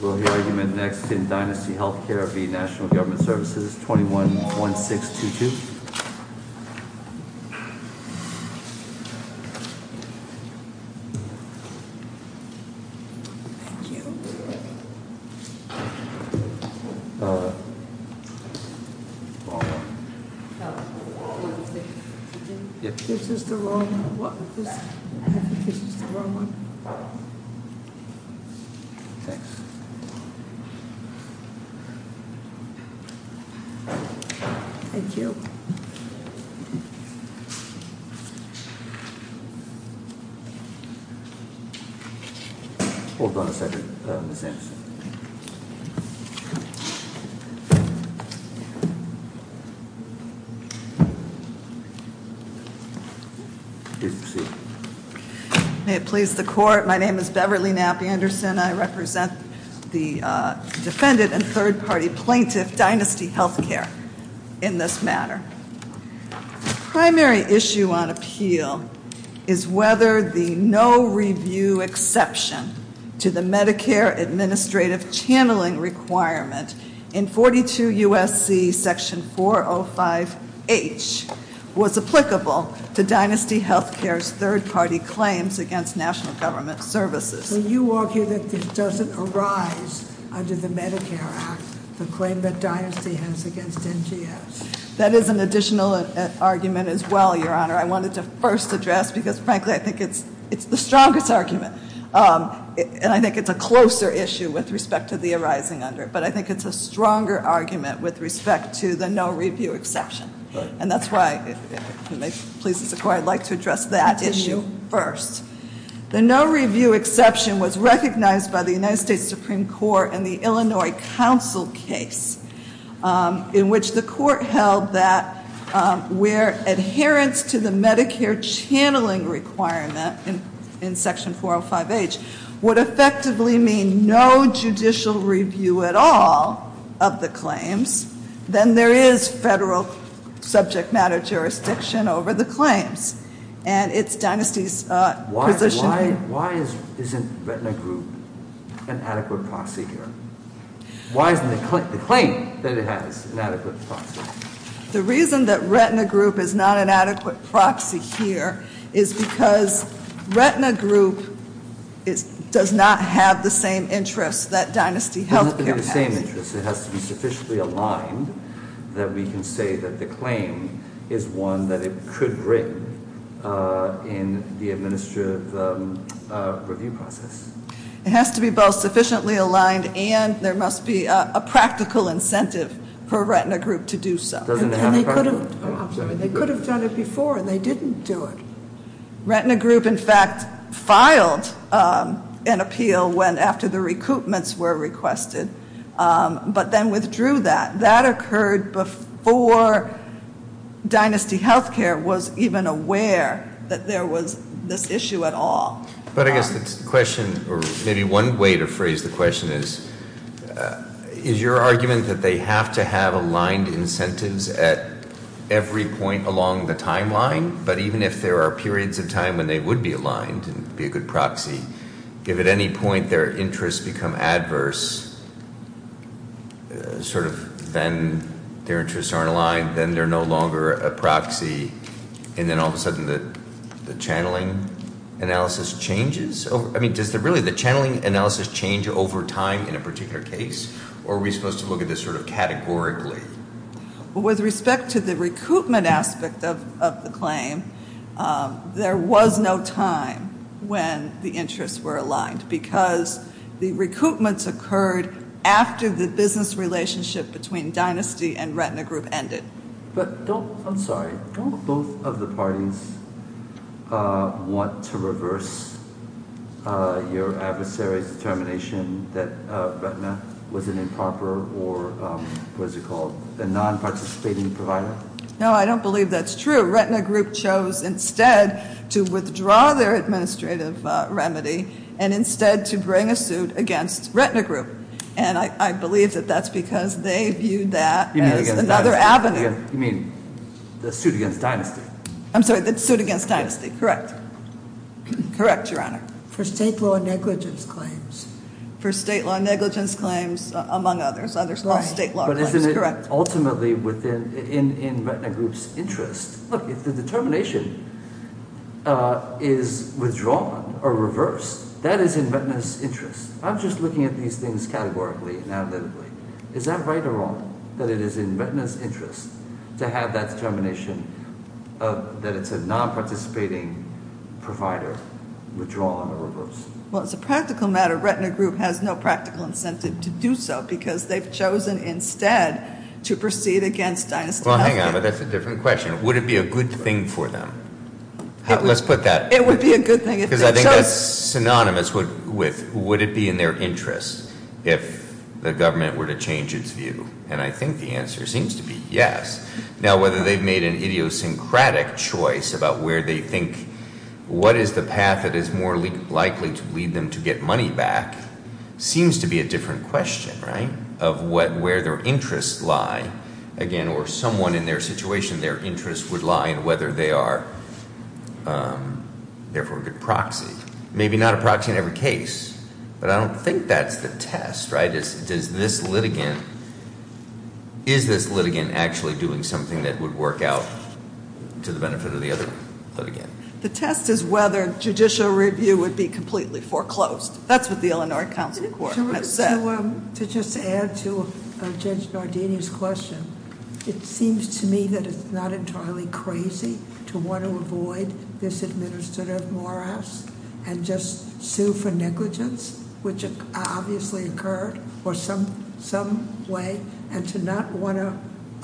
Will the argument next in Dynasty Healthcare v. National Government Services, 21-1622? Thank you. Hold on a second, Ms. Anderson. Please proceed. May it please the Court, my name is Beverly Knapp Anderson. I represent the defendant and third-party plaintiff, Dynasty Healthcare, in this matter. The primary issue on appeal is whether the no-review exception to the Medicare administrative channeling requirement in 42 U.S.C. section 405H was applicable to Dynasty Healthcare's third-party plaintiff. The second-party claims against National Government Services. So you argue that this doesn't arise under the Medicare Act, the claim that Dynasty has against NGS? That is an additional argument as well, Your Honor. I wanted to first address because, frankly, I think it's the strongest argument. And I think it's a closer issue with respect to the arising under it. But I think it's a stronger argument with respect to the no-review exception. And that's why, if it pleases the Court, I'd like to address that issue first. The no-review exception was recognized by the United States Supreme Court in the Illinois Council case, in which the Court held that where adherence to the Medicare channeling requirement in section 405H would effectively mean no judicial review at all of the claims, then there is federal subject matter jurisdiction over the claims. And it's Dynasty's position. Why isn't Retina Group an adequate proxy here? Why isn't the claim that it has an adequate proxy? The reason that Retina Group is not an adequate proxy here is because Retina Group does not have the same interests that Dynasty Healthcare has. It doesn't have the same interests. It has to be sufficiently aligned that we can say that the claim is one that it could bring in the administrative review process. It has to be both sufficiently aligned and there must be a practical incentive for Retina Group to do so. Doesn't it have a practical? They could have done it before and they didn't do it. Retina Group, in fact, filed an appeal after the recoupments were requested, but then withdrew that. That occurred before Dynasty Healthcare was even aware that there was this issue at all. But I guess the question, or maybe one way to phrase the question is, is your argument that they have to have aligned incentives at every point along the timeline, but even if there are periods of time when they would be aligned and be a good proxy, if at any point their interests become adverse, then their interests aren't aligned, then they're no longer a proxy, and then all of a sudden the channeling analysis changes? I mean, does really the channeling analysis change over time in a particular case, or are we supposed to look at this sort of categorically? With respect to the recoupment aspect of the claim, there was no time when the interests were aligned because the recoupments occurred after the business relationship between Dynasty and Retina Group ended. But don't, I'm sorry, don't both of the parties want to reverse your adversary's determination that Retina was an improper or, what is it called, a non-participating provider? No, I don't believe that's true. Retina Group chose instead to withdraw their administrative remedy and instead to bring a suit against Retina Group, and I believe that that's because they viewed that as another avenue. You mean the suit against Dynasty? I'm sorry, the suit against Dynasty, correct. Correct, Your Honor. For state law negligence claims. For state law negligence claims, among others. But isn't it ultimately in Retina Group's interest, look, if the determination is withdrawn or reversed, that is in Retina's interest. I'm just looking at these things categorically and analytically. Is that right or wrong, that it is in Retina's interest to have that determination that it's a non-participating provider withdrawn or reversed? Well, it's a practical matter. Retina Group has no practical incentive to do so because they've chosen instead to proceed against Dynasty. Well, hang on, but that's a different question. Would it be a good thing for them? Let's put that, because I think that's synonymous with, would it be in their interest if the government were to change its view? And I think the answer seems to be yes. Now, whether they've made an idiosyncratic choice about where they think, what is the path that is more likely to lead them to get money back, seems to be a different question, right, of what their interests lie. Again, or someone in their situation, their interests would lie in whether they are therefore a good proxy. Maybe not a proxy in every case, but I don't think that's the test, right? Is this litigant actually doing something that would work out to the benefit of the other litigant? The test is whether judicial review would be completely foreclosed. That's what the Illinois Council Court has said. To just add to Judge Nardini's question, it seems to me that it's not entirely crazy to want to avoid this administrative morass and just sue for negligence, which obviously occurred for some way, and to not want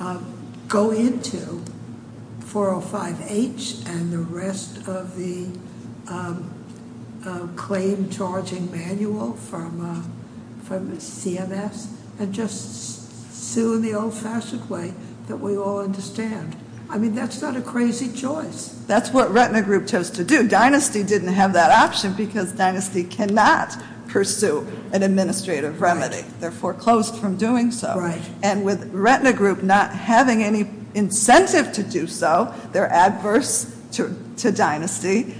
to go into 405H and the rest of the claim charging manual from CMS and just sue in the old-fashioned way that we all understand. I mean, that's not a crazy choice. That's what Retina Group chose to do. Dynasty didn't have that option because Dynasty cannot pursue an administrative remedy. They're foreclosed from doing so. And with Retina Group not having any incentive to do so, they're adverse to Dynasty.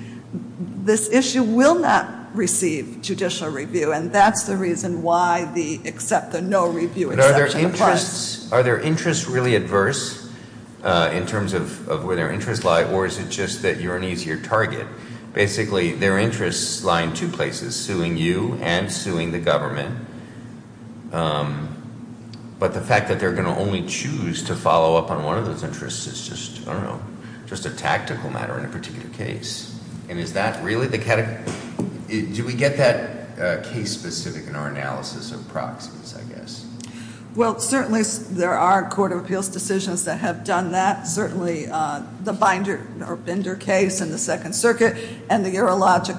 This issue will not receive judicial review, and that's the reason why the accept the no review exception applies. But are their interests really adverse in terms of where their interests lie, or is it just that you're an easier target? Basically, their interests lie in two places, suing you and suing the government. But the fact that they're going to only choose to follow up on one of those interests is just, I don't know, just a tactical matter in a particular case. And is that really the category? Do we get that case-specific in our analysis of proxies, I guess? Well, certainly there are Court of Appeals decisions that have done that. Certainly the Binder case in the Second Circuit and the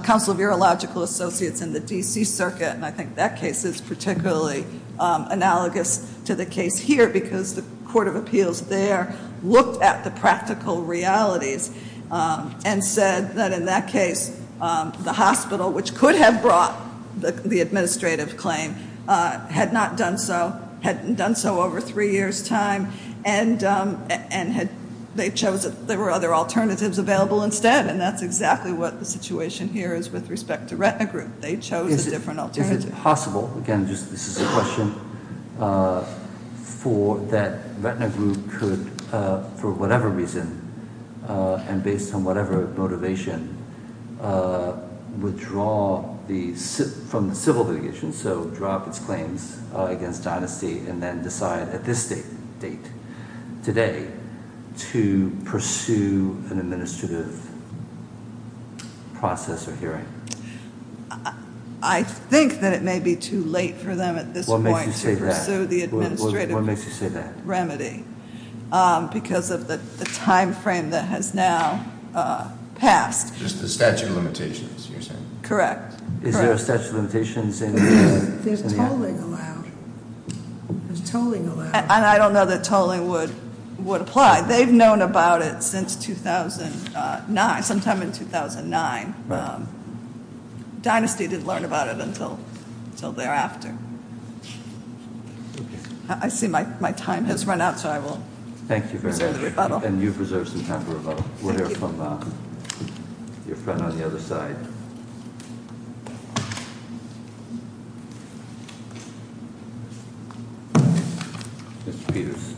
Council of Urological Associates in the D.C. Circuit, and I think that case is particularly analogous to the case here because the Court of Appeals there looked at the practical realities and said that in that case the hospital, which could have brought the administrative claim, had not done so, hadn't done so over three years' time, and they chose that there were other alternatives available instead. And that's exactly what the situation here is with respect to Retina Group. They chose a different alternative. Is it possible, again, this is a question, for that Retina Group could, for whatever reason and based on whatever motivation, withdraw from the civil litigation, so drop its claims against Dynasty and then decide at this date today to pursue an administrative process or hearing? I think that it may be too late for them at this point to pursue the administrative remedy. Because of the time frame that has now passed. Just the statute of limitations you're saying? Correct. Is there a statute of limitations? There's tolling allowed. There's tolling allowed. And I don't know that tolling would apply. They've known about it since 2009, sometime in 2009. Dynasty didn't learn about it until thereafter. I see my time has run out, so I will reserve the rebuttal. Thank you very much. And you preserve some time for rebuttal. We'll hear from your friend on the other side. Mr. Peters.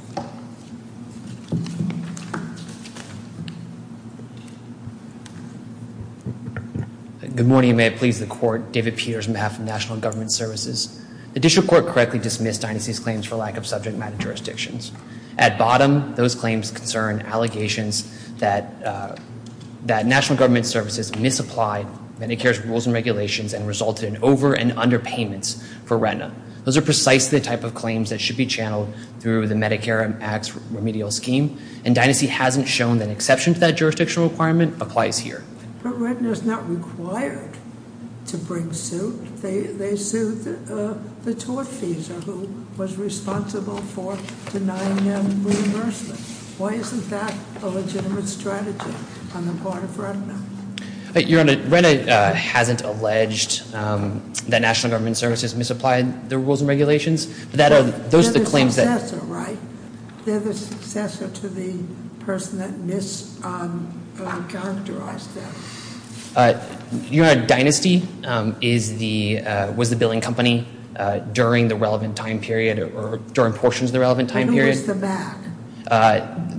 Good morning. May it please the Court. David Peters on behalf of National Government Services. The District Court correctly dismissed Dynasty's claims for lack of subject matter jurisdictions. At bottom, those claims concern allegations that National Government Services misapplied Medicare's rules and regulations and resulted in over and under payments for Retina. Those are precisely the type of claims that should be channeled through the Medicare Act's remedial scheme. And Dynasty hasn't shown that exception to that jurisdiction requirement applies here. But Retina is not required to bring suit. They are the successor, right? They're the successor to the person that mischaracterized them. Your Honor, Dynasty was the billing company during the relevant time period, or during portions of the relevant time period. And who was the back?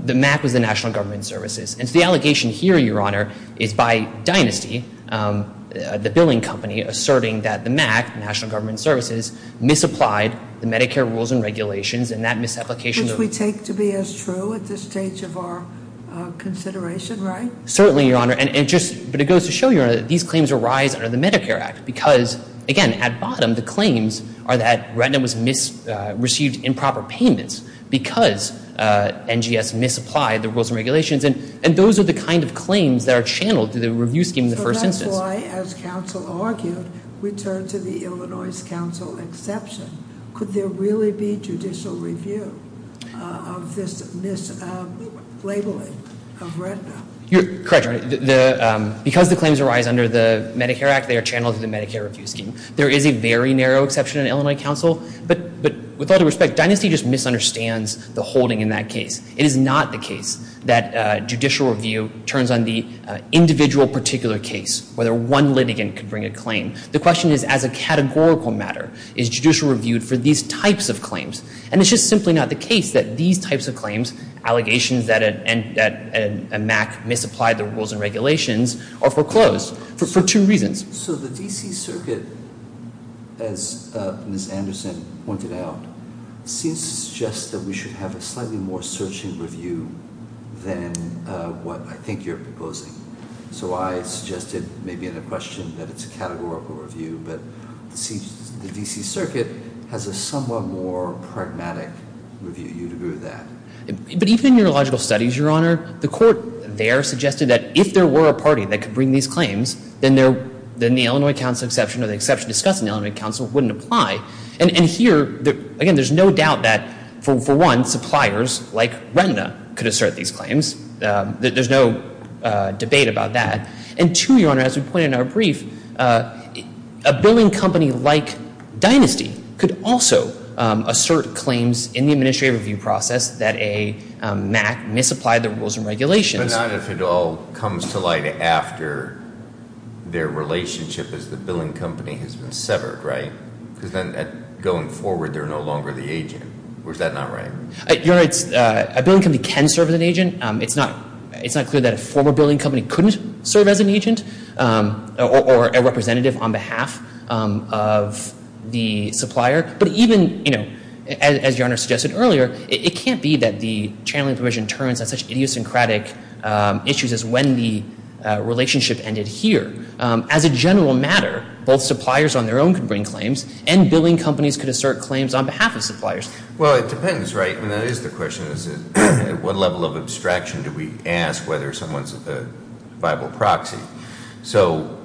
The MAC was the National Government Services. And so the allegation here, Your Honor, is by Dynasty, the billing company, asserting that the MAC, National Government Services, misapplied the Medicare rules and regulations and that misapplication... Which we take to be as true at this stage of our consideration, right? Certainly, Your Honor. But it goes to show, Your Honor, that these claims arise under the Medicare Act. Because, again, at bottom, the claims are that Retina was received in proper payments because NGS misapplied the rules and regulations. And those are the kind of claims that are channeled through the review scheme in the first instance. So that's why, as counsel argued, we turn to the Illinois Council exception. Could there really be judicial review of this mislabeling of Retina? Correct, Your Honor. Because the claims arise under the Medicare Act, they are channeled through the Medicare review scheme. There is a very narrow exception in Illinois Council. But with all due respect, Dynasty just misunderstands the holding in that case. It is not the case that judicial review turns on the individual particular case, whether one litigant could bring a claim. The question is, as a categorical matter, is judicial review for these types of claims? And it's just simply not the case that these types of claims, allegations that a MAC misapplied the rules and regulations, are foreclosed for two reasons. So the D.C. Circuit, as Ms. Anderson pointed out, seems to suggest that we should have a slightly more searching review than what I think you're proposing. So I suggested, maybe in a question, that it's a categorical review. But the D.C. Circuit has a somewhat more pragmatic review. Do you agree with that? But even in neurological studies, Your Honor, the court there suggested that if there were a party that could bring these claims, then the Illinois Council exception or the exception discussed in the Illinois Council wouldn't apply. And here, again, there's no doubt that, for one, suppliers like Retina could assert these claims. There's no debate about that. And two, Your Honor, as we pointed out in our brief, a billing company like Dynasty could also assert claims in the administrative review process that a MAC misapplied the rules and regulations. But not if it all comes to light after their relationship as the billing company has been severed, right? Because then going forward, they're no longer the agent. Or is that not right? Your Honor, a billing company can serve as an agent. It's not clear that a former billing company couldn't serve as an agent or a representative on behalf of the supplier. But even, you know, as Your Honor suggested earlier, it can't be that the channeling provision turns on such idiosyncratic issues as when the relationship ended here. As a general matter, both suppliers on their own could bring claims and billing companies could assert claims on behalf of suppliers. Well, it depends, right? I mean, that is the question. At what level of abstraction do we ask whether someone's a viable proxy? So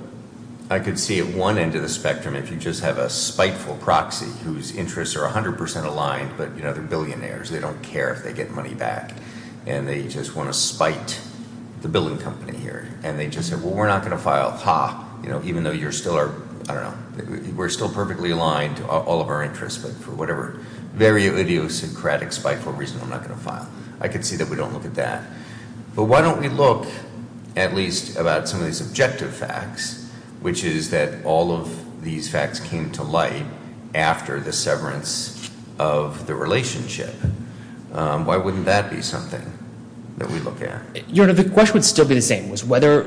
I could see at one end of the spectrum, if you just have a spiteful proxy whose interests are 100 percent aligned, but, you know, they're billionaires. They don't care if they get money back. And they just want to spite the billing company here. And they just say, well, we're not going to file. Ha. You know, even though you're still our, I don't know, we're still perfectly aligned to all of our interests. But for whatever very idiosyncratic, spiteful reason, I'm not going to file. I could see that we don't look at that. But why don't we look at least about some of these objective facts, which is that all of these facts came to light after the severance of the relationship. Why wouldn't that be something that we look at? Your Honor, the question would still be the same, was whether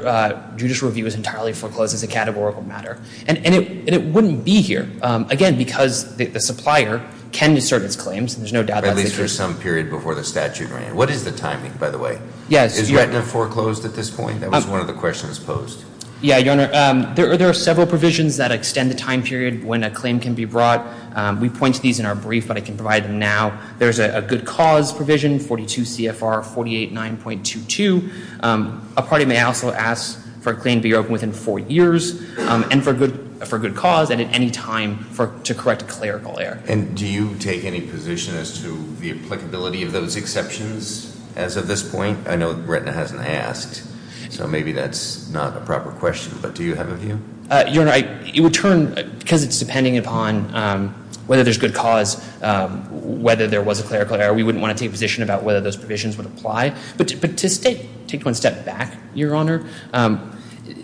judicial review was entirely foreclosed as a categorical matter. And it wouldn't be here. Again, because the supplier can assert its claims. There's no doubt about that. At least for some period before the statute ran. What is the timing, by the way? Is retina foreclosed at this point? That was one of the questions posed. Yeah, Your Honor. There are several provisions that extend the time period when a claim can be brought. We point to these in our brief, but I can provide them now. There's a good cause provision, 42 CFR 48 9.22. A party may also ask for a claim to be open within four years and for good cause and at any time to correct a clerical error. And do you take any position as to the applicability of those exceptions as of this point? I know retina hasn't asked, so maybe that's not a proper question, but do you have a view? Your Honor, it would turn, because it's depending upon whether there's good cause, whether there was a clerical error, we wouldn't want to take a position about whether those provisions would apply. But to take one step back, Your Honor,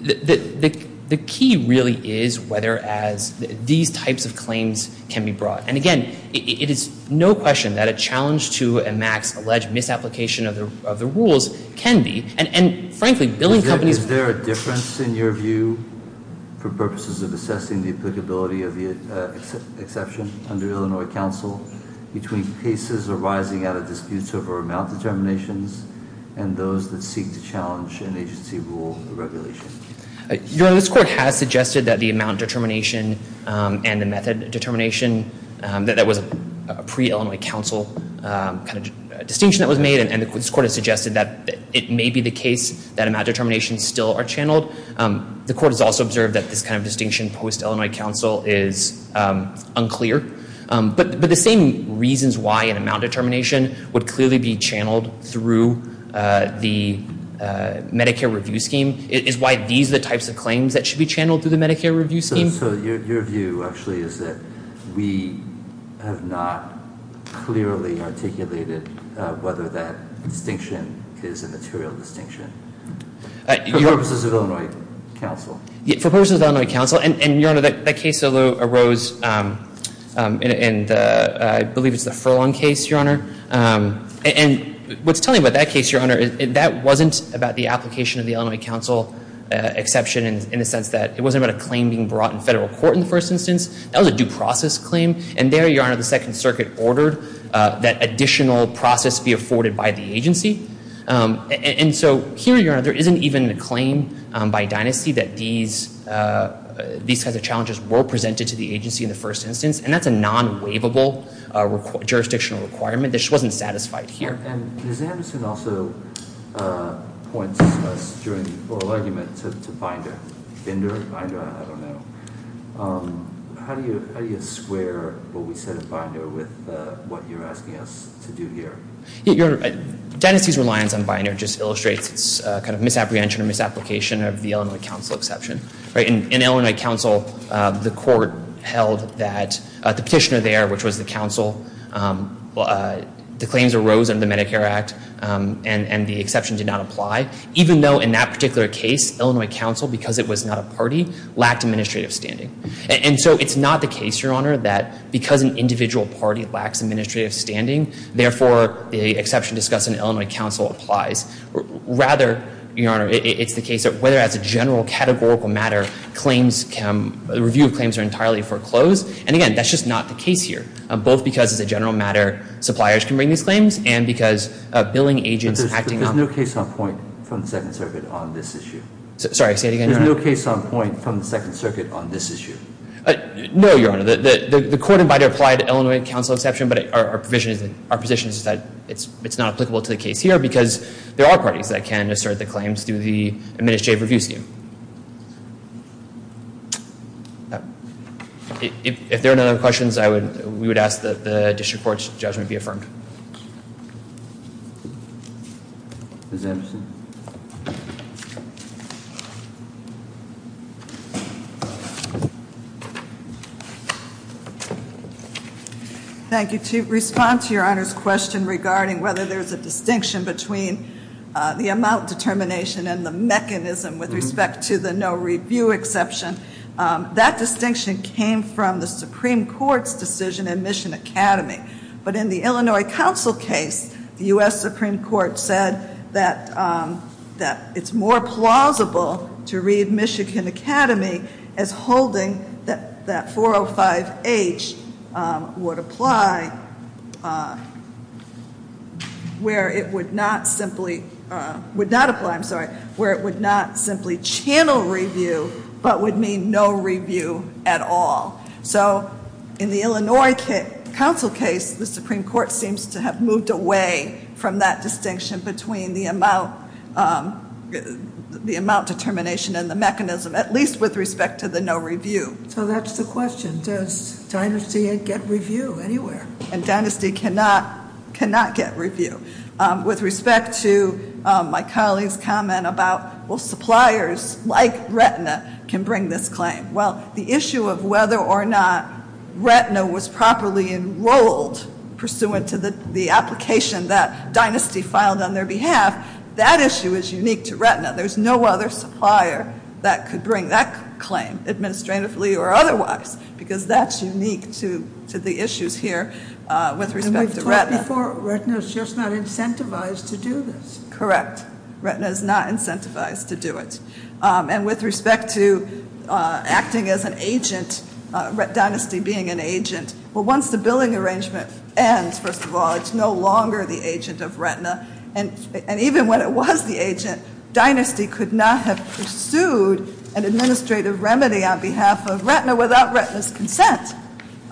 the key really is whether as these types of claims can be brought. And again, it is no question that a challenge to a max alleged misapplication of the rules can be. And frankly, billing companies... Is there a difference in your view for purposes of assessing the applicability of the exception under Illinois Council between cases arising out of disputes over amount determinations and those that seek to challenge an agency rule or regulation? Your Honor, this Court has suggested that the amount determination and the method determination, that that was a pre-Illinois Council kind of distinction that was made, and this Court has suggested that it may be the case that amount determinations still are channeled. The Court has also observed that this kind of distinction post-Illinois Council is unclear. But the same reasons why an amount determination would clearly be channeled through the Medicare Review Scheme is why these are the types of claims that should be channeled through the Medicare Review Scheme. So your view actually is that we have not clearly articulated whether that distinction is a material distinction for purposes of Illinois Council? For purposes of Illinois Council. And your Honor, that case arose in I believe it's the Furlong case, your Honor. And what's telling about that case, your Honor, that wasn't about the application of the Illinois Council exception in the sense that it wasn't about a claim being brought in federal court in the first instance. That was a due process claim. And there, your Honor, the Second Circuit ordered that additional process be afforded by the agency. And so here, your Honor, there isn't even a claim by dynasty that these kinds of challenges were presented to the agency in the first instance. And that's a non-waivable jurisdictional requirement. This wasn't satisfied here. And Ms. Anderson also points us during the How do you square what we said in Binder with what you're asking us to do here? Your Honor, dynasty's reliance on Binder just illustrates its kind of misapprehension and misapplication of the Illinois Council exception. In Illinois Council, the court held that the petitioner there, which was the council, the claims arose under the Medicare Act and the exception did not apply. Even though in that particular case, Illinois Council, because it was not a party, lacked administrative standing. And so it's not the case, your Honor, that because an individual party lacks administrative standing, therefore the exception discussed in Illinois Council applies. Rather, your Honor, it's the case that whether as a general categorical matter, claims can, review of claims are entirely foreclosed. And again, that's just not the case here. Both because as a general matter, suppliers can bring these claims and because billing agents acting on them. There's no case on point from the Second Circuit on this issue. No, your Honor. The court in Binder applied Illinois Council exception, but our position is that it's not applicable to the case here because there are parties that can assert the claims through the administrative review scheme. If there are no other questions, we would ask that the district court's judgment be affirmed. Ms. Anderson. Thank you. To respond to your Honor's question regarding whether there's a distinction between the amount determination and the mechanism with respect to the no review exception, that distinction came from the Supreme Court's decision in Mission Academy. But in the Illinois Council case, the U.S. Supreme Court said that it's more plausible to read Michigan Academy as holding that 405H would apply where it would not simply, would not apply, I'm sorry, where it would not simply channel review, but would mean no review at all. So in the Illinois Council case, the Supreme Court seems to have moved away from that distinction between the amount determination and the mechanism, at least with respect to the no review. So that's the question. Does Dynasty get review anywhere? And Dynasty cannot get review. With respect to my colleague's comment about, well, suppliers like Retina can bring this claim. Well, the issue of whether or not Retina was properly enrolled pursuant to the application that Dynasty filed on their behalf, that issue is unique to Retina. There's no other supplier that could bring that claim, administratively or otherwise, because that's unique to the issues here with respect to Retina. And we've talked before, Retina is just not incentivized to do this. Correct. Retina is not incentivized to do it. And with respect to acting as an agent, Dynasty being an agent, well, once the billing arrangement ends, first of all, it's no longer the agent of Retina. And even when it was the agent, Dynasty could not have pursued an administrative remedy on behalf of Retina without Retina's consent.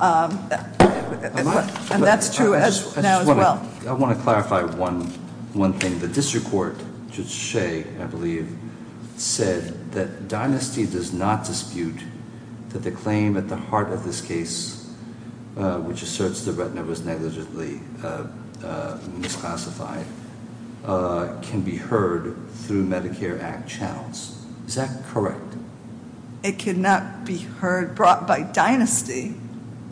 And that's true now as well. I want to clarify one thing. The claim at the heart of this case, which asserts that Retina was negligibly misclassified, can be heard through Medicare Act channels. Is that correct? It cannot be heard brought by Dynasty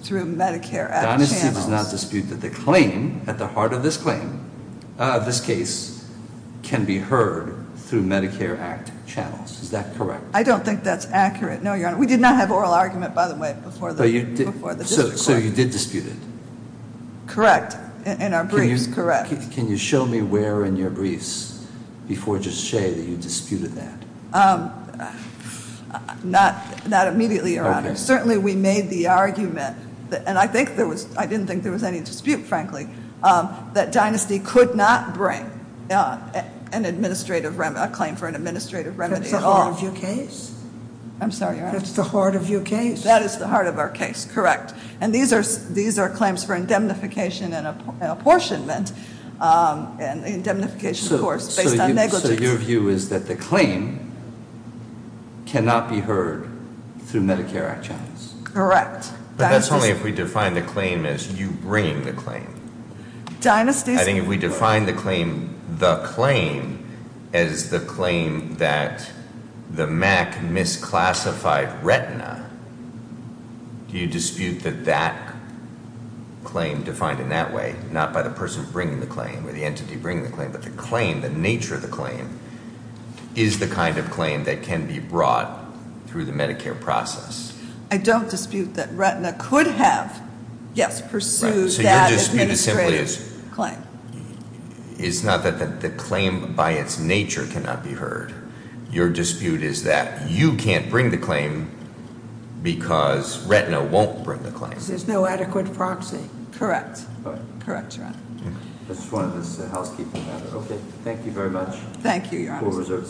through Medicare Act channels. Dynasty does not dispute that the claim at the heart of this claim, this case, can be heard through Medicare Act channels. Is that correct? I don't think that's accurate. No, Your Honor. We did not have an oral argument, by the way, before the district court. So you did dispute it? Correct. In our briefs, correct. Can you show me where in your briefs before Judge Shea that you disputed that? Not immediately, Your Honor. Certainly we made the argument and I didn't think there was any dispute, frankly, that Dynasty could not bring a claim for an administrative remedy at all. That's the heart of your case? I'm sorry, Your Honor. That's the heart of your case? That is the heart of our case, correct. And these are claims for indemnification and apportionment. And indemnification, of course, based on negligence. So your view is that the claim cannot be heard through Medicare Act channels? Correct. But that's only if we define the claim as you bringing the claim. I think if we define the claim as the claim that the MAC misclassified retina, do you dispute that that claim, defined in that way, not by the person bringing the claim or the entity bringing the claim, but the claim, the nature of the claim, is the kind of claim that can be brought through the Medicare process? I don't dispute that retina could have, yes, pursued that administrative claim. It's not that the claim by its nature cannot be heard. Your dispute is that you can't bring the claim because retina won't bring the claim. There's no adequate proxy. Correct. That's one of the housekeeping matters. Okay. Thank you very much. Thank you, Your Honor.